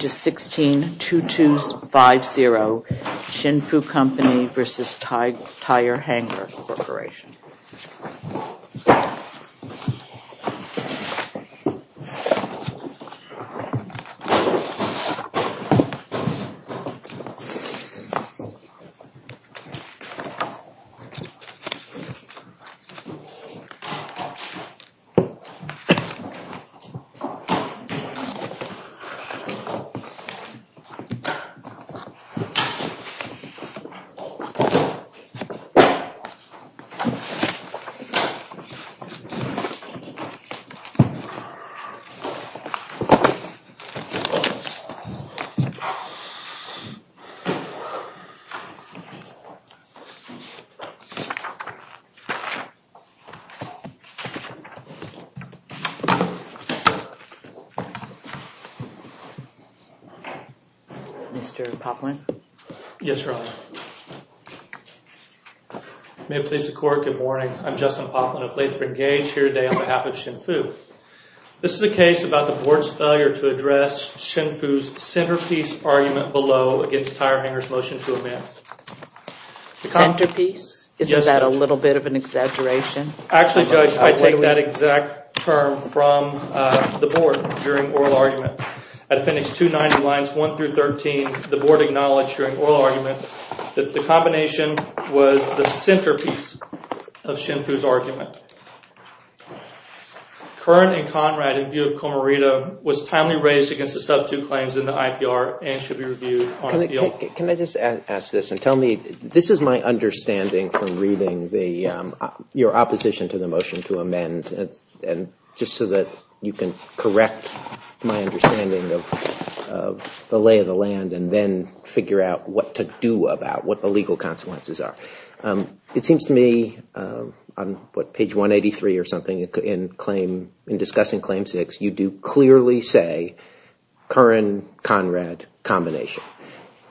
to 162250, Shinfu Company versus Tire Hanger Corporation. This is a case about the board's failure to address Shinfu's centerpiece argument below against Tire Hanger's motion to amend. Centerpiece? Isn't that a little bit of an exaggeration? Actually, Judge, I take that exact term from the board during oral argument. At appendix 290, lines 1 through 13, the board acknowledged during oral argument that the combination was the centerpiece of Shinfu's argument. Kern and Conrad, in view of Comarita, was timely raised against the substitute claims in the IPR and should be reviewed on appeal. Can I just ask this and tell me, this is my understanding from reading your opposition to the motion to amend, just so that you can correct my understanding of the lay of the land and then figure out what to do about what the legal consequences are. It seems to me, on page 183 or something, in discussing claim 6, you do clearly say Kern-Conrad combination.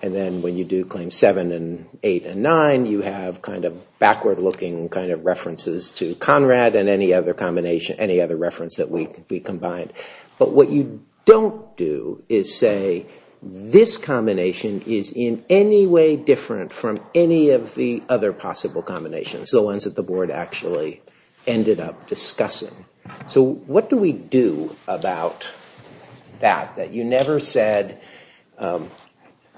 And then when you do claim 7 and 8 and 9, you have kind of backward-looking references to Conrad and any other reference that we combined. But what you don't do is say, this combination is in any way different from any of the other possible combinations, the ones that the board actually ended up discussing. So what do we do about that? That you never said,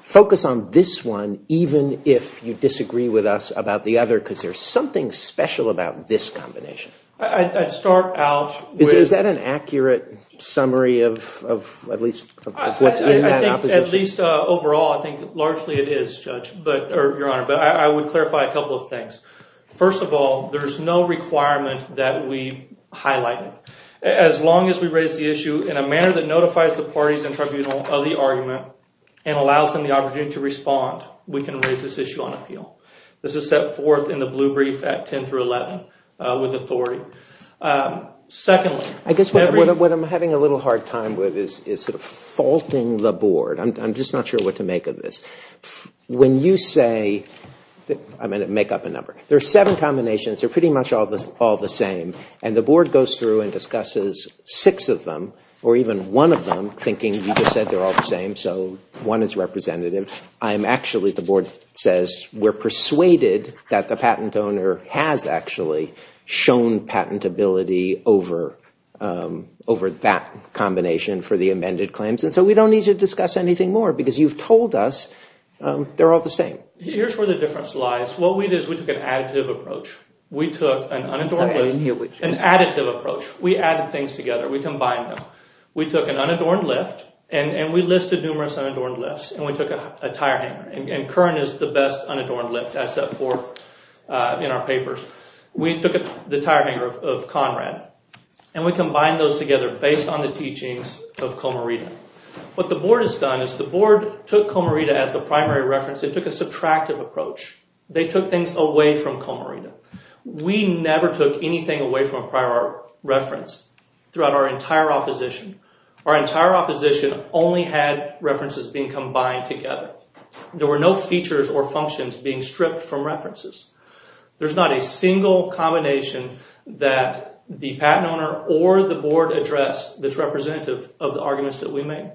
focus on this one even if you disagree with us about the other, because there's something special about this combination. I'd start out with... Is that an accurate summary of at least what's in that opposition? I think, at least overall, I think largely it is, Judge, or Your Honor. But I would clarify a couple of things. First of all, there's no requirement that we highlight it. As long as we raise the issue in a manner that notifies the parties in tribunal of the argument and allows them the opportunity to respond, we can raise this issue on appeal. This is set forth in the blue brief at 10 through 11 with authority. Secondly... I guess what I'm having a little hard time with is sort of faulting the board. I'm just not sure what to make of this. When you say... I'm going to make up a number. There are seven combinations. They're pretty much all the same. And the board goes through and discusses six of them, or even one of them, thinking you just said they're all the same, so one is representative. I'm actually, the board says, we're persuaded that the patent owner has actually shown patentability over that combination for the amended claims. And so we don't need to discuss anything more because you've told us they're all the same. Here's where the difference lies. What we did is we took an additive approach. We took an unadorned lift. I'm sorry, I didn't hear what you said. An additive approach. We added things together. We combined them. We took an unadorned lift, and we listed numerous unadorned lifts, and we took a tire hanger. And Curran is the best unadorned lift. That's set forth in our papers. We took the tire hanger of Conrad, and we combined those together based on the teachings of Comarita. What the board has done is the board took Comarita as the primary reference. It took a subtractive approach. They took things away from Comarita. We never took anything away from a prior reference throughout our entire opposition. Our entire opposition only had references being combined together. There were no features or functions being stripped from references. There's not a single combination that the patent owner or the board addressed that's representative of the arguments that we made.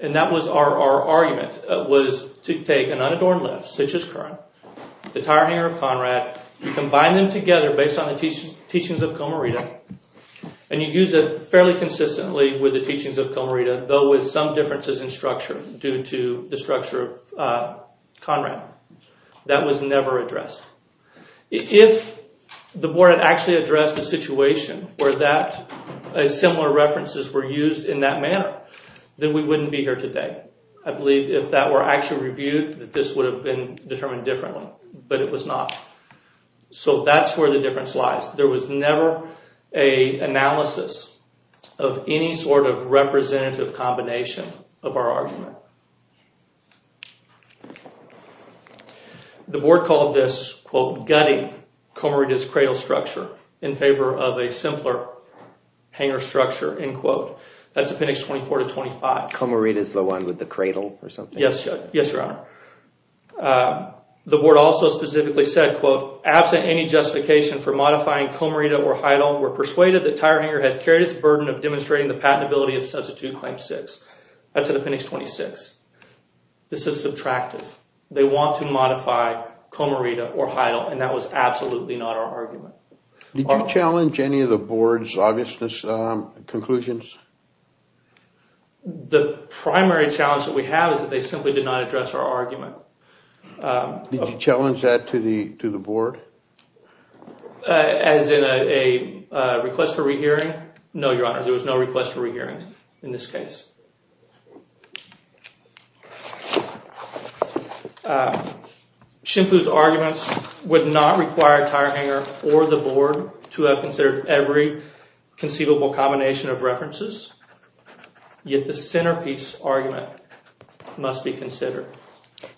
And that was our argument was to take an unadorned lift, such as Curran, the tire hanger of Conrad, and combine them together based on the teachings of Comarita. And you use it fairly consistently with the teachings of Comarita, though with some differences in structure due to the structure of Conrad. That was never addressed. If the board had actually addressed a situation where similar references were used in that manner, then we wouldn't be here today. I believe if that were actually reviewed, that this would have been determined differently, but it was not. So that's where the difference lies. There was never an analysis of any sort of representative combination of our argument. The board called this, quote, gutting Comarita's cradle structure in favor of a simpler hanger structure, end quote. That's appendix 24 to 25. Comarita's the one with the cradle or something? Yes, your honor. The board also specifically said, quote, absent any justification for modifying Comarita or Heidel, we're persuaded that tire hanger has carried its burden of demonstrating the patentability of substitute claim six. That's in appendix 26. This is subtractive. They want to modify Comarita or Heidel, and that was absolutely not our argument. Did you challenge any of the board's obviousness conclusions? The primary challenge that we have is that they simply did not address our argument. Did you challenge that to the board? As in a request for rehearing? No, your honor. There was no request for rehearing in this case. Shimfu's arguments would not require tire hanger or the board to have considered every conceivable combination of references, yet the centerpiece argument must be considered.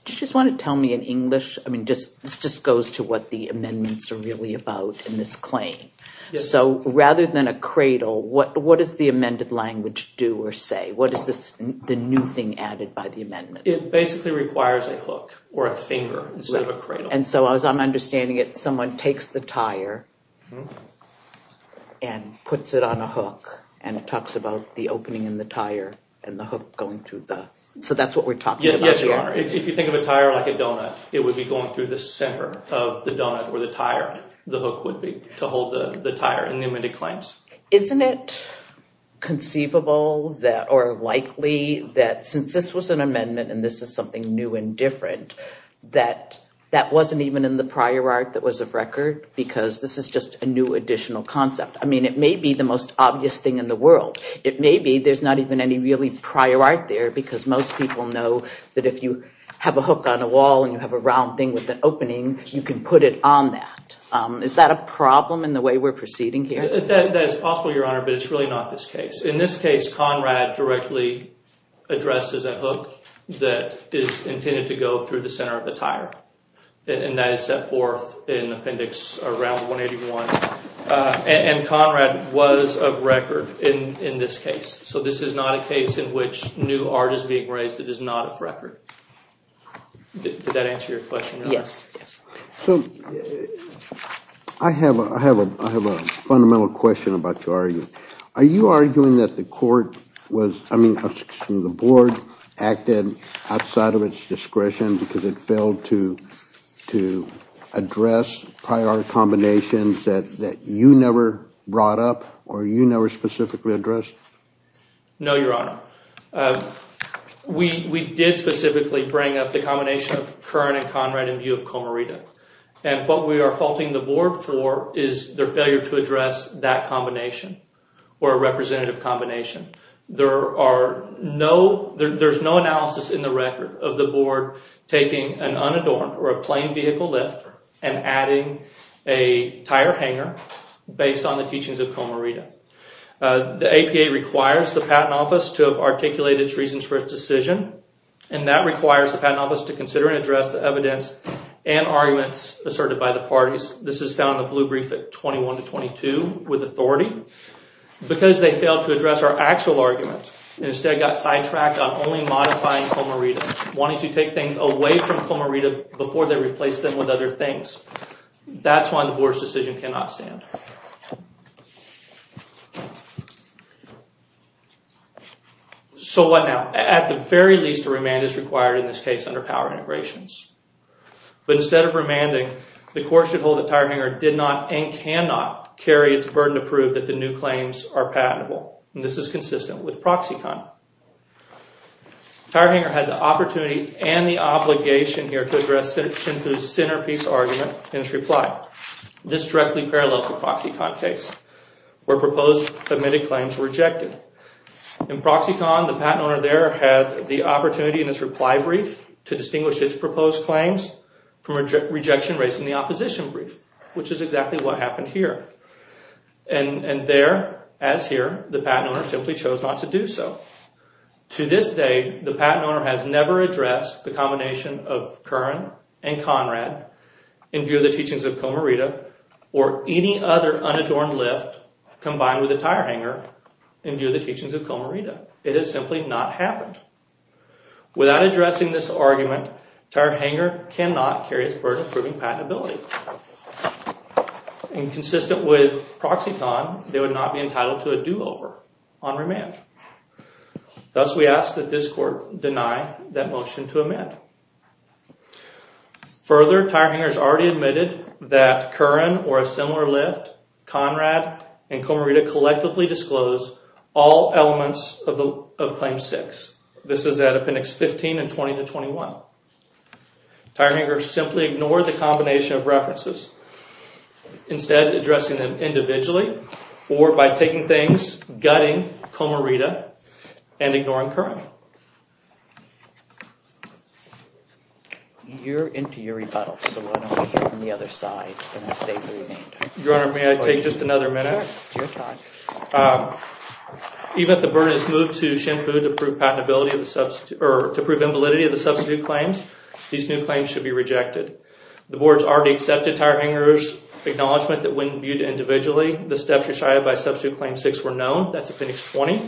Do you just want to tell me in English? I mean, this just goes to what the amendments are really about in this claim. So rather than a cradle, what does the amended language do or say? What is the new thing added by the amendment? It basically requires a hook or a finger instead of a cradle. And so as I'm understanding it, someone takes the tire and puts it on a hook, and it talks about the opening in the tire and the hook going through the... So that's what we're talking about here? Yes, your honor. If you think of a tire like a donut, it would be going through the center of the donut where the tire, the hook would be to hold the tire in the amended claims. Isn't it conceivable or likely that since this was an amendment and this is something new and different, that that wasn't even in the prior art that was of record because this is just a new additional concept? I mean, it may be the most obvious thing in the world. It may be there's not even any really prior art there because most people know that if you have a hook on a wall and you have a round thing with an opening, you can put it on that. Is that a problem in the way we're proceeding here? That is possible, your honor, but it's really not this case. In this case, Conrad directly addresses a hook that is intended to go through the center of the tire and that is set forth in appendix around 181. And Conrad was of record in this case. So this is not a case in which new art is being raised that is not of record. Did that answer your question? So I have a fundamental question I'm about to argue. Are you arguing that the board acted outside of its discretion because it failed to address prior combinations that you never brought up or you never specifically addressed? No, your honor. We did specifically bring up the combination of Kern and Conrad in view of Comarita. And what we are faulting the board for is their failure to address that combination. Or a representative combination. There's no analysis in the record of the board taking an unadorned or a plain vehicle lift and adding a tire hanger based on the teachings of Comarita. The APA requires the Patent Office to have articulated its reasons for its decision and that requires the Patent Office to consider and address the evidence and arguments asserted by the parties. This is found in the blue brief at 21 to 22 with authority. Because they failed to address our actual argument and instead got sidetracked on only modifying Comarita. Wanting to take things away from Comarita before they replace them with other things. That's why the board's decision cannot stand. So what now? At the very least, a remand is required in this case under power integrations. But instead of remanding, the court should hold the tire hanger did not and cannot carry its burden to prove that the new claims are patentable. And this is consistent with Proxicon. The tire hanger had the opportunity and the obligation here to address Shinto's centerpiece argument in its reply. This directly parallels the Proxicon case where proposed admitted claims were rejected. In Proxicon, the patent owner there had the opportunity in his reply brief to distinguish its proposed claims from rejection raised in the opposition brief. Which is exactly what happened here. And there, as here, the patent owner simply chose not to do so. To this day, the patent owner has never addressed the combination of Curran and Conrad in view of the teachings of Comarita or any other unadorned lift combined with a tire hanger in view of the teachings of Comarita. It has simply not happened. Without addressing this argument, tire hanger cannot carry its burden proving patentability. And consistent with Proxicon, they would not be entitled to a do-over on remand. Thus, we ask that this court deny that motion to amend. Further, tire hangers already admitted that Curran or a similar lift, Conrad, and Comarita collectively disclose all elements of Claim 6. This is at Appendix 15 and 20 to 21. Tire hangers simply ignored the combination of references. Instead, addressing them individually or by taking things, gutting Comarita, and ignoring Curran. You're into your rebuttal, so why don't we hear from the other side. Your Honor, may I take just another minute? Sure, it's your time. Even if the burden is moved to Shinfu to prove invalidity of the substitute claims, these new claims should be rejected. The board's already accepted tire hangers' acknowledgement that when viewed individually, the steps recited by Substitute Claim 6 were known. That's Appendix 20.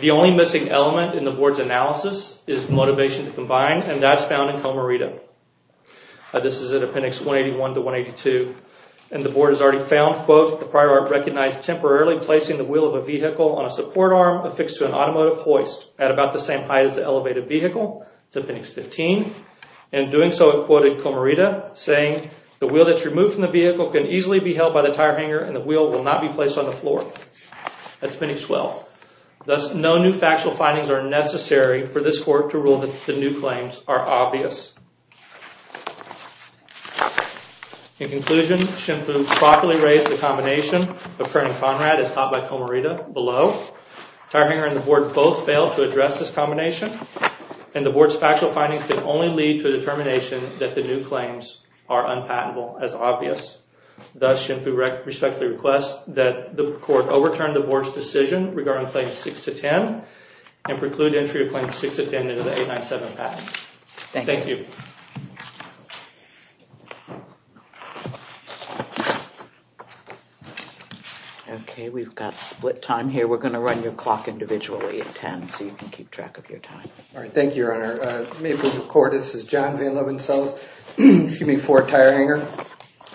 The only missing element in the board's analysis is motivation to combine, and that's found in Comarita. And the board has already found, quote, the prior art recognized temporarily placing the wheel of a vehicle on a support arm affixed to an automotive hoist at about the same height as the elevated vehicle. That's Appendix 15. In doing so, it quoted Comarita, saying, the wheel that's removed from the vehicle can easily be held by the tire hanger and the wheel will not be placed on the floor. That's Appendix 12. Thus, no new factual findings are necessary for this court to rule that the new claims are obvious. In conclusion, Shinfu properly raised the combination of Kern and Conrad as taught by Comarita below. Tire hanger and the board both failed to address this combination, and the board's factual findings can only lead to a determination that the new claims are unpatentable as obvious. Thus, Shinfu respectfully requests that the court overturn the board's decision regarding Claims 6-10 and preclude entry of Claims 6-10 into the 897 patent. Thank you. Okay, we've got split time here. We're going to run your clock individually at 10 so you can keep track of your time. All right, thank you, Your Honor. May it please the court, this is John Van Loven-Sells, excuse me, for Tire Hanger.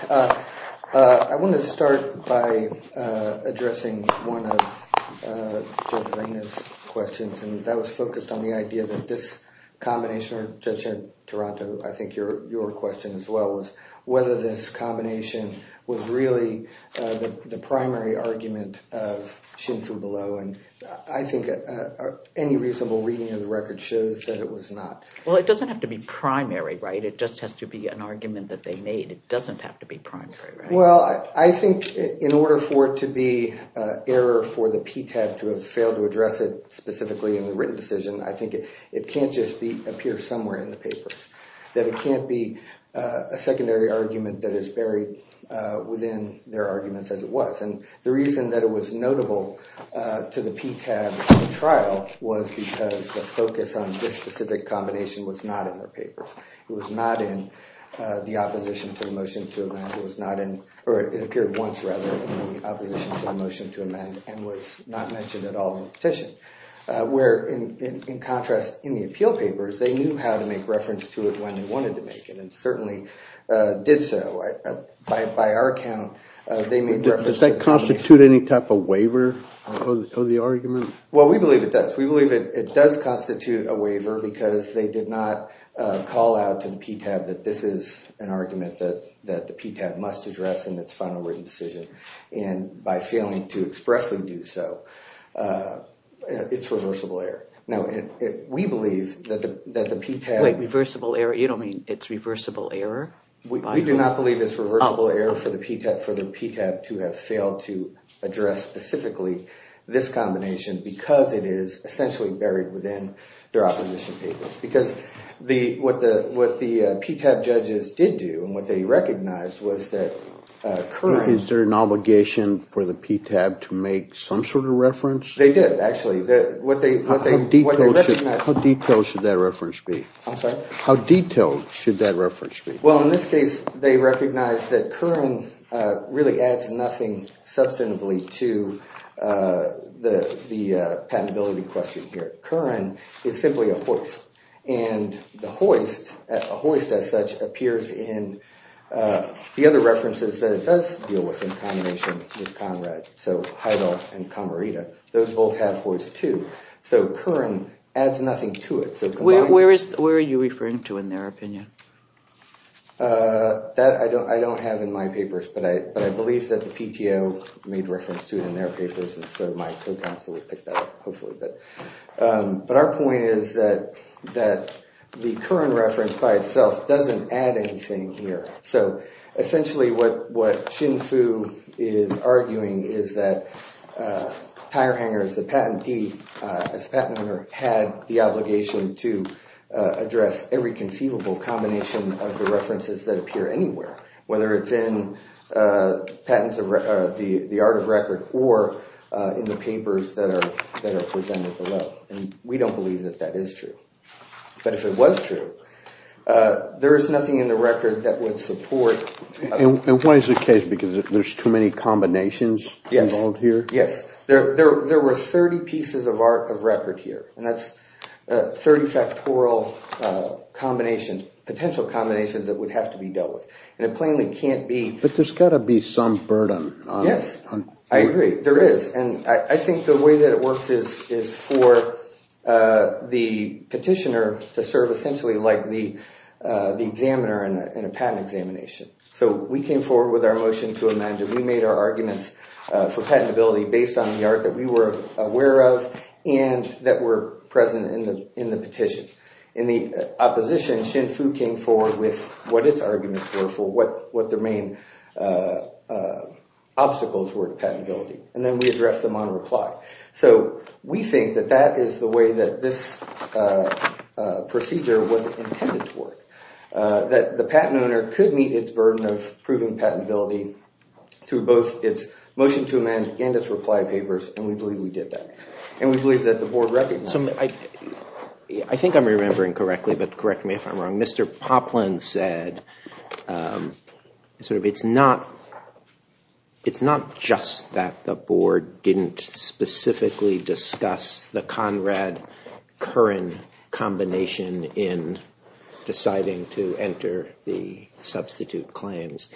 I want to start by addressing one of Judge Reina's questions, and that was focused on the idea that this combination, or Judge Toronto, I think your question as well, was whether this combination was really the primary argument of Shinfu below, and I think any reasonable reading of the record shows that it was not. Well, it doesn't have to be primary, right? It just has to be an argument that they made. It doesn't have to be primary, right? Well, I think in order for it to be error for the PTAB to have failed to address it specifically in the written decision, I think it can't just appear somewhere in the papers, that it can't be a secondary argument that is buried within their arguments as it was. And the reason that it was notable to the PTAB in trial was because the focus on this specific combination was not in their papers. It was not in the opposition to the motion to amend, or it appeared once, rather, in the opposition to the motion to amend and was not mentioned at all in the petition. Where, in contrast, in the appeal papers, they knew how to make reference to it when they wanted to make it, and certainly did so. By our account, they made reference to it. Does that constitute any type of waiver of the argument? Well, we believe it does. We believe it does constitute a waiver because they did not call out to the PTAB that this is an argument that the PTAB must address in its final written decision, and by failing to expressly do so, it's reversible error. Now, we believe that the PTAB… Wait, reversible error? You don't mean it's reversible error? We do not believe it's reversible error for the PTAB to have failed to address specifically this combination because it is essentially buried within their opposition papers. Because what the PTAB judges did do, and what they recognized, was that Curran… Is there an obligation for the PTAB to make some sort of reference? They did, actually. How detailed should that reference be? I'm sorry? How detailed should that reference be? Well, in this case, they recognized that Curran really adds nothing substantively to the patentability question here. Curran is simply a hoist, and the hoist, a hoist as such, appears in the other references that it does deal with in combination with Conrad, so Heidel and Camarita. Those both have hoists, too. So Curran adds nothing to it. Where are you referring to in their opinion? That I don't have in my papers, but I believe that the PTO made reference to it in their papers, and so my co-counsel will pick that up, hopefully. But our point is that the Curran reference by itself doesn't add anything here. So, essentially, what Xin Fu is arguing is that Tire Hangers, the patentee, as a patent owner, had the obligation to address every conceivable combination of the references that appear anywhere, whether it's in patents of the art of record or in the papers that are presented below, and we don't believe that that is true. But if it was true, there is nothing in the record that would support... And why is it the case? Because there's too many combinations involved here? Yes. There were 30 pieces of art of record here, and that's 30 factorial combinations, potential combinations that would have to be dealt with, and it plainly can't be... But there's got to be some burden. Yes. I agree. There is, and I think the way that it works is for the petitioner to serve, essentially, like the examiner in a patent examination. So we came forward with our motion to amend it. We made our arguments for patentability based on the art that we were aware of and that were present in the petition. In the opposition, Xin Fu came forward with what its arguments were for what their main obstacles were to patentability, and then we addressed them on reply. So we think that that is the way that this procedure was intended to work, that the patent owner could meet its burden of proving patentability through both its motion to amend and its reply papers, and we believe we did that, and we believe that the Board recognizes that. I think I'm remembering correctly, but correct me if I'm wrong. Mr. Poplin said, sort of, it's not just that the Board didn't specifically discuss the Conrad-Curran combination in deciding to enter the substitute claims.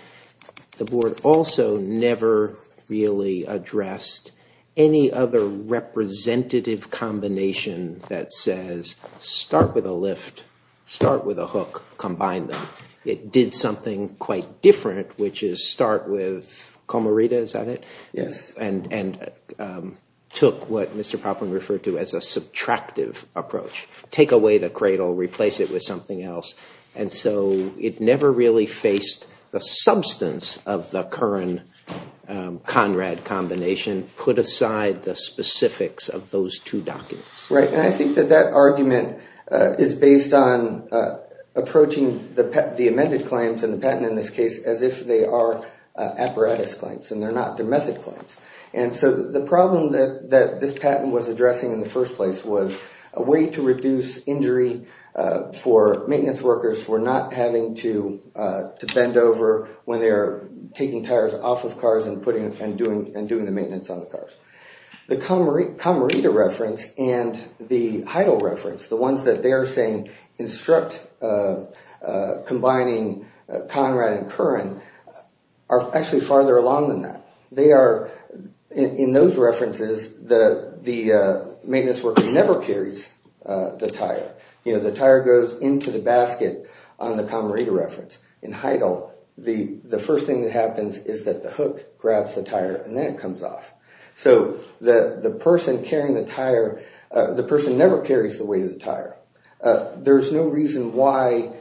The Board also never really addressed any other representative combination that says, start with a lift, start with a hook, combine them. It did something quite different, which is start with Comorita, is that it? Yes. And took what Mr. Poplin referred to as a subtractive approach. Take away the cradle, replace it with something else, and so it never really faced the substance of the Curran-Conrad combination, put aside the specifics of those two documents. Right, and I think that that argument is based on approaching the amended claims and the patent in this case as if they are apparatus claims and they're not. They're method claims. And so the problem that this patent was addressing in the first place was a way to reduce injury for maintenance workers for not having to bend over when they're taking tires off of cars and doing the maintenance on the cars. The Comorita reference and the Heidel reference, the ones that they are saying instruct combining Conrad and Curran, are actually farther along than that. They are, in those references, the maintenance worker never carries the tire. You know, the tire goes into the basket on the Comorita reference. In Heidel, the first thing that happens is that the hook grabs the tire and then it comes off. So the person carrying the tire, the person never carries the weight of the tire. There's no reason why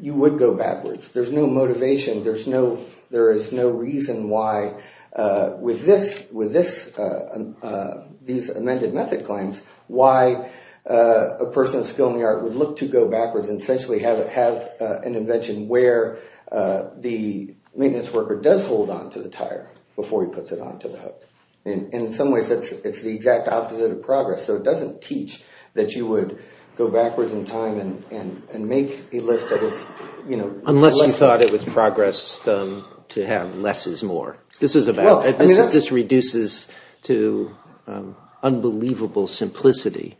you would go backwards. There's no motivation. There is no reason why with these amended method claims, why a person of skill in the art would look to go backwards and essentially have an invention where the maintenance worker does hold on to the tire before he puts it on to the hook. In some ways, it's the exact opposite of progress. So it doesn't teach that you would go backwards in time and make a list that is, you know… Unless you thought it was progress to have less is more. This reduces to unbelievable simplicity,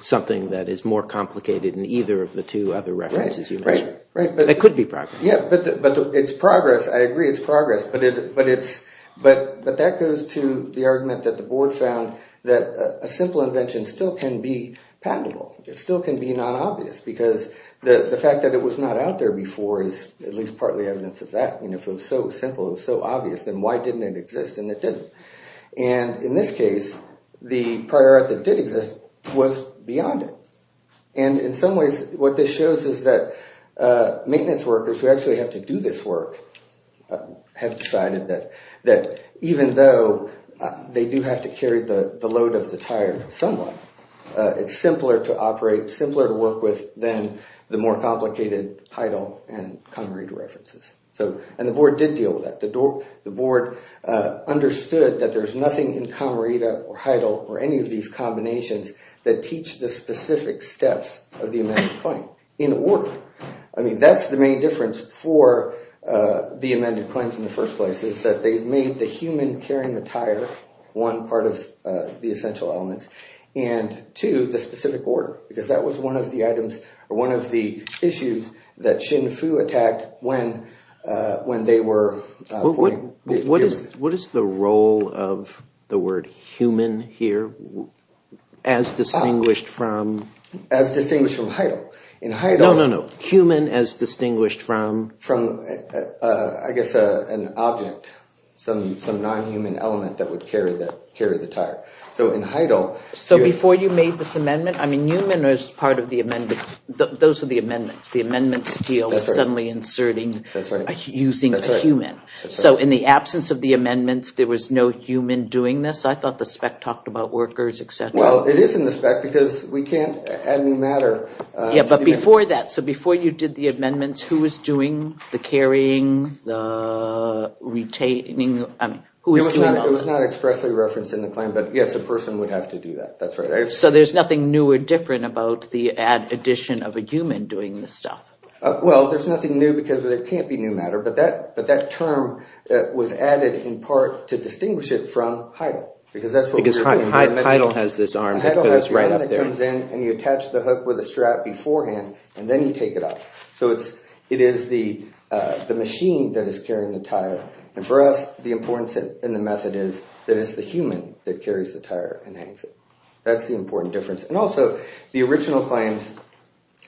something that is more complicated in either of the two other references you mentioned. Right, right. That could be progress. Yeah, but it's progress. I agree it's progress, but that goes to the argument that the board found that a simple invention still can be patentable. It still can be non-obvious because the fact that it was not out there before is at least partly evidence of that. If it was so simple, so obvious, then why didn't it exist and it didn't? And in this case, the prior art that did exist was beyond it. And in some ways, what this shows is that maintenance workers who actually have to do this work have decided that even though they do have to carry the load of the tire somewhat, it's simpler to operate, simpler to work with than the more complicated Heidel and Camarita references. And the board did deal with that. The board understood that there's nothing in Camarita or Heidel or any of these combinations that teach the specific steps of the amended claim in order. I mean, that's the main difference for the amended claims in the first place is that they made the human carrying the tire one part of the essential elements and two, the specific order because that was one of the items or one of the issues that Xin Fu attacked when they were... What is the role of the word human here as distinguished from... As distinguished from Heidel. In Heidel... No, no, no. Human as distinguished from... From, I guess, an object, some non-human element that would carry the tire. So in Heidel... So before you made this amendment, I mean, human is part of the amendment. Those are the amendments. The amendments deal with suddenly inserting... That's right. ...using the human. So in the absence of the amendments, there was no human doing this? I thought the spec talked about workers, et cetera. Well, it is in the spec because we can't add any matter... Yeah, but before that, so before you did the amendments, who was doing the carrying, the retaining... It was not expressly referenced in the claim, but yes, a person would have to do that. That's right. So there's nothing new or different about the addition of a human doing this stuff? Well, there's nothing new because there can't be new matter, but that term was added in part to distinguish it from Heidel because that's what we're... Because Heidel has this arm that goes right up there. Heidel has the arm that comes in and you attach the hook with a strap beforehand and then you take it off. So it is the machine that is carrying the tire. And for us, the importance in the method is that it's the human that carries the tire and hangs it. That's the important difference. And also, the original claims,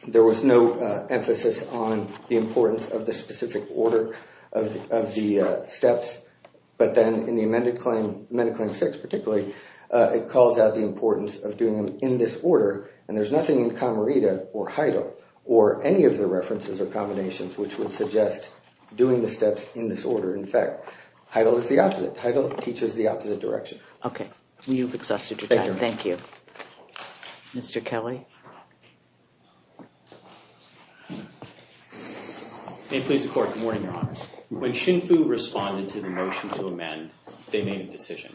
there was no emphasis on the importance of the specific order of the steps, but then in the amended claim, amended claim 6 particularly, it calls out the importance of doing them in this order and there's nothing in Commerida or Heidel or any of the references or combinations which would suggest doing the steps in this order. In fact, Heidel is the opposite. Heidel teaches the opposite direction. Okay. You've exhausted your time. Thank you. Thank you. Mr. Kelly? May it please the Court. Good morning, Your Honor. When SHNFU responded to the motion to amend, they made a decision.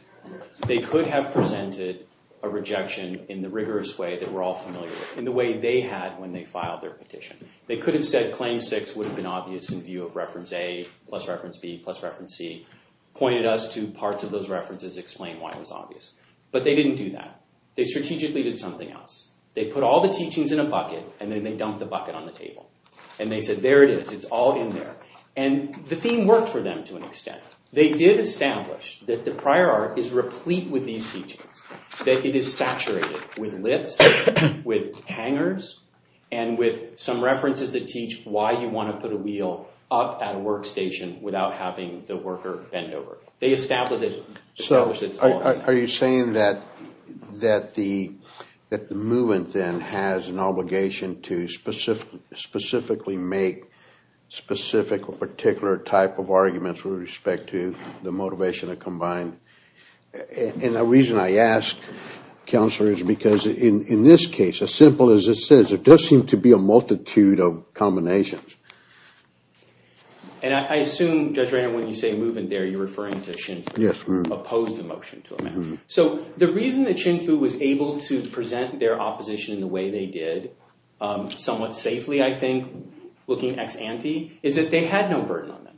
They could have presented a rejection in the rigorous way that we're all familiar with, in the way they had when they filed their petition. They could have said claim 6 would have been obvious in view of reference A plus reference B plus reference C, pointed us to parts of those references, explained why it was obvious. But they didn't do that. They strategically did something else. They put all the teachings in a bucket and then they dumped the bucket on the table. And they said, there it is. It's all in there. And the theme worked for them to an extent. They did establish that the prior art is replete with these teachings, that it is saturated with lifts, with hangers, and with some references that teach why you want to put a wheel up at a workstation without having the worker bend over. They established it. Are you saying that the movement then has an obligation to specifically make specific or particular type of arguments with respect to the motivation to combine? And the reason I ask, Counselor, is because in this case, as simple as it says, it does seem to be a multitude of combinations. And I assume, Judge Reynard, when you say movement there, you're referring to Shinfu. Yes. Opposed the motion to amend. So the reason that Shinfu was able to present their opposition in the way they did somewhat safely, I think, looking ex-ante, is that they had no burden on them.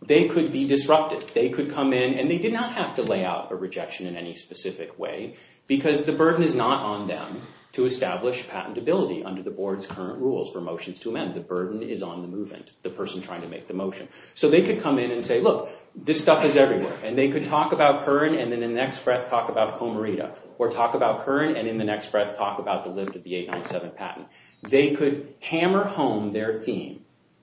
They could be disrupted. They could come in, and they did not have to lay out a rejection in any specific way because the burden is not on them to establish patentability under the Board's current rules for motions to amend. The burden is on the movement, the person trying to make the motion. So they could come in and say, look, this stuff is everywhere, and they could talk about Kern and in the next breath talk about Comarita, or talk about Kern and in the next breath talk about the lift of the 897 patent. They could hammer home their theme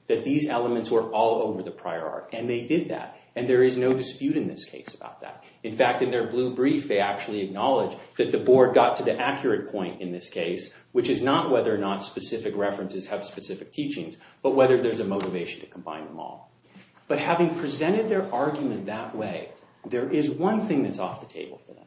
that these elements were all over the prior art, and they did that. And there is no dispute in this case about that. In fact, in their blue brief, they actually acknowledge that the Board got to the accurate point in this case, which is not whether or not specific references have specific teachings, but whether there's a motivation to combine them all. But having presented their argument that way, there is one thing that's off the table for them.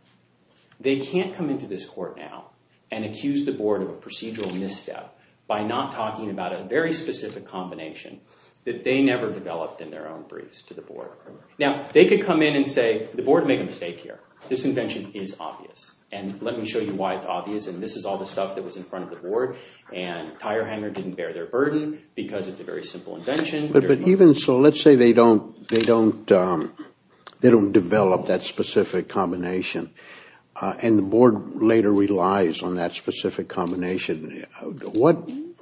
They can't come into this court now and accuse the Board of a procedural misstep by not talking about a very specific combination that they never developed in their own briefs to the Board. Now, they could come in and say, the Board made a mistake here. This invention is obvious, and let me show you why it's obvious, and this is all the stuff that was in front of the Board, and tire hanger didn't bear their burden because it's a very simple invention. But even so, let's say they don't develop that specific combination, and the Board later relies on that specific combination.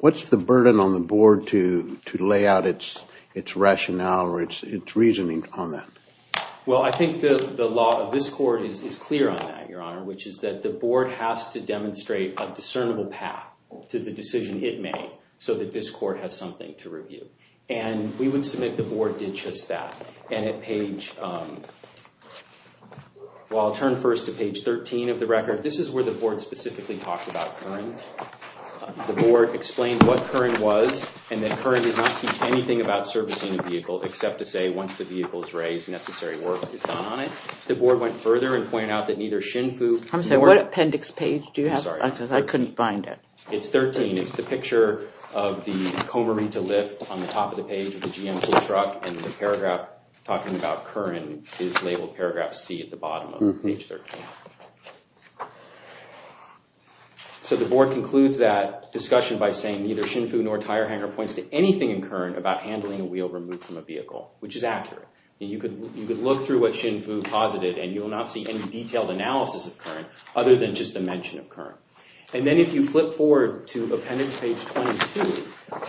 What's the burden on the Board to lay out its rationale or its reasoning on that? Well, I think the law of this Court is clear on that, Your Honor, which is that the Board has to demonstrate a discernible path to the decision it made so that this Court has something to review. And we would submit the Board did just that. I'll turn first to page 13 of the record. Your Honor, this is where the Board specifically talked about Curran. The Board explained what Curran was, and that Curran does not teach anything about servicing a vehicle except to say once the vehicle is raised, necessary work is done on it. The Board went further and pointed out that neither Shinfu nor— I'm sorry, what appendix page do you have? I'm sorry. I couldn't find it. It's 13. It's the picture of the Comorita lift on the top of the page of the GMT truck, and the paragraph talking about Curran is labeled paragraph C at the bottom of page 13. So the Board concludes that discussion by saying neither Shinfu nor Tire Hanger points to anything in Curran about handling a wheel removed from a vehicle, which is accurate. You could look through what Shinfu posited, and you will not see any detailed analysis of Curran other than just the mention of Curran. And then if you flip forward to appendix page 22,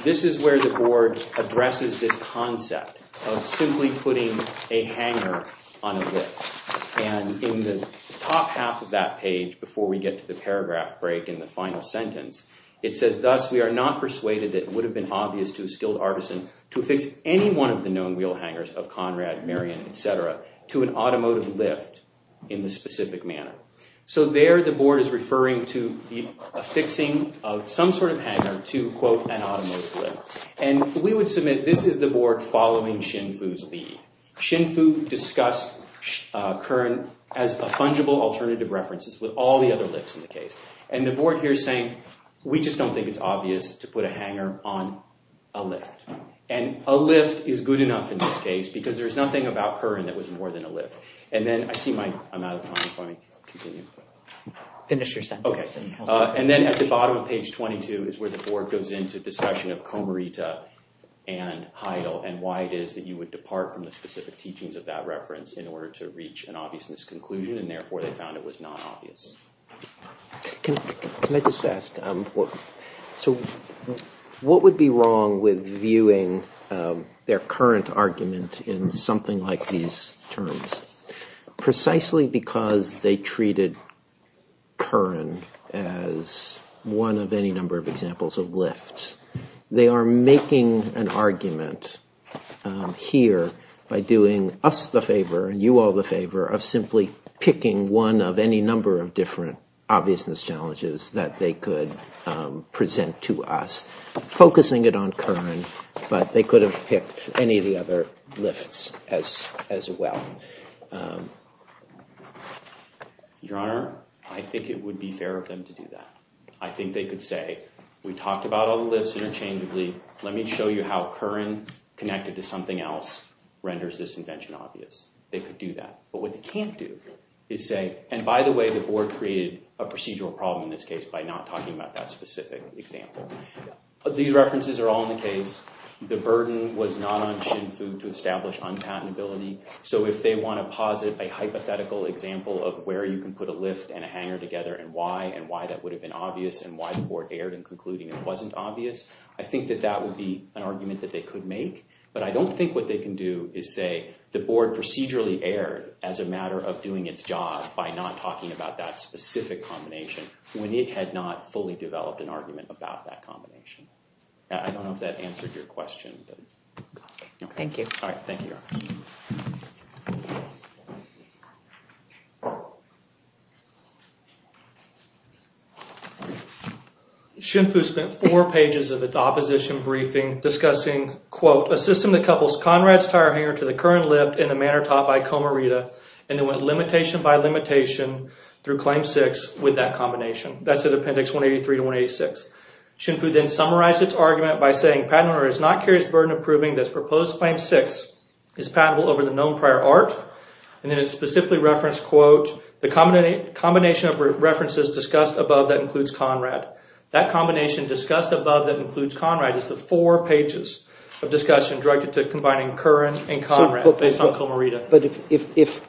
this is where the Board addresses this concept of simply putting a hanger on a lift. And in the top half of that page, before we get to the paragraph break in the final sentence, it says thus, we are not persuaded that it would have been obvious to a skilled artisan to affix any one of the known wheel hangers of Conrad, Marion, etc. to an automotive lift in this specific manner. So there the Board is referring to the affixing of some sort of hanger to, quote, an automotive lift. And we would submit this is the Board following Shinfu's lead. Shinfu discussed Curran as a fungible alternative references with all the other lifts in the case. And the Board here is saying, we just don't think it's obvious to put a hanger on a lift. And a lift is good enough in this case because there's nothing about Curran that was more than a lift. And then I see I'm out of time, if I may continue. Finish your sentence. Okay. And then at the bottom of page 22 is where the Board goes into discussion of Comarita and Heidel and why it is that you would depart from the specific teachings of that reference in order to reach an obvious misconclusion and therefore they found it was not obvious. Can I just ask, so what would be wrong with viewing their current argument in something like these terms? Precisely because they treated Curran as one of any number of examples of lifts, they are making an argument here by doing us the favor and you all the favor of simply picking one of any number of different obviousness challenges that they could present to us, focusing it on Curran, but they could have picked any of the other lifts as well. Your Honor, I think it would be fair of them to do that. I think they could say, we talked about all the lifts interchangeably, let me show you how Curran connected to something else renders this invention obvious. They could do that. But what they can't do is say, and by the way, the Board created a procedural problem in this case by not talking about that specific example. These references are all in the case. The burden was not on Xin Fu to establish unpatentability. So if they want to posit a hypothetical example of where you can put a lift and a hanger together and why, and why that would have been obvious and why the Board erred in concluding it wasn't obvious, I think that that would be an argument that they could make. But I don't think what they can do is say, the Board procedurally erred as a matter of doing its job by not talking about that specific combination when it had not fully developed an argument about that combination. I don't know if that answered your question. Thank you. Thank you. Xin Fu spent four pages of its opposition briefing discussing, quote, a system that couples Conrad's tire hanger to the Curran lift in a manner taught by Comarita and then went limitation by limitation through Claim 6 with that combination. That's in Appendix 183 to 186. Xin Fu then summarized its argument by saying, Patent owner is not curious burden of proving that Proposed Claim 6 is patentable over the known prior art and then it specifically referenced, quote, the combination of references discussed above that includes Conrad. That combination discussed above that includes Conrad is the four pages of discussion directed to combining Curran and Conrad based on Comarita.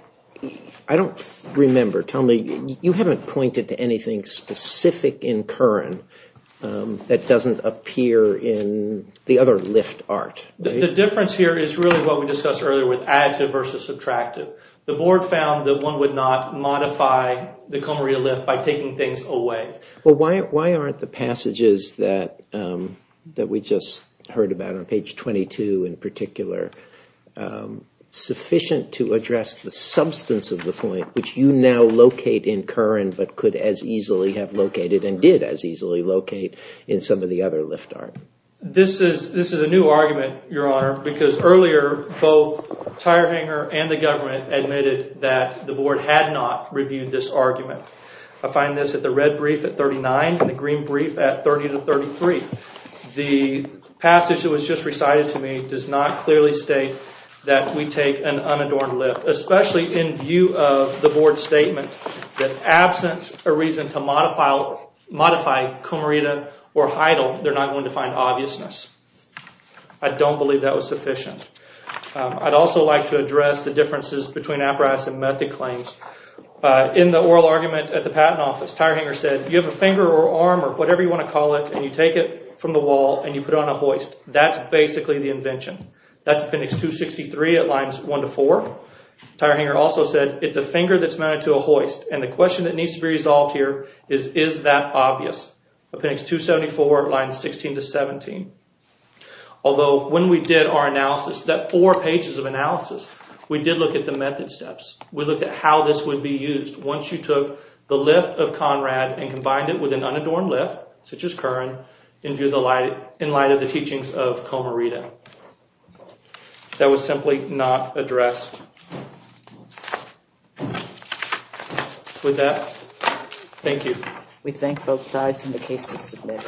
I don't remember. Tell me, you haven't pointed to anything specific in Curran that doesn't appear in the other lift art. The difference here is really what we discussed earlier with additive versus subtractive. The board found that one would not modify the Comarita lift by taking things away. Sufficient to address the substance of the point which you now locate in Curran but could as easily have located and did as easily locate in some of the other lift art. This is a new argument, Your Honor, because earlier both Tire Hanger and the government admitted that the board had not reviewed this argument. I find this at the red brief at 39 and the green brief at 30 to 33. The passage that was just recited to me does not clearly state that we take an unadorned lift, especially in view of the board's statement that absent a reason to modify Comarita or Heidel, they're not going to find obviousness. I don't believe that was sufficient. I'd also like to address the differences between apparatus and method claims. In the oral argument at the Patent Office, Tire Hanger said, you have a finger or arm or whatever you want to call it, and you take it from the wall and you put it on a hoist. That's basically the invention. That's Appendix 263 at Lines 1 to 4. Tire Hanger also said, it's a finger that's mounted to a hoist, and the question that needs to be resolved here is, is that obvious? Appendix 274 at Lines 16 to 17. Although when we did our analysis, that four pages of analysis, we did look at the method steps. We looked at how this would be used. Once you took the lift of Conrad and combined it with an unadorned lift, such as Curran, in light of the teachings of Comarita. That was simply not addressed. With that, thank you. We thank both sides in the case to submit.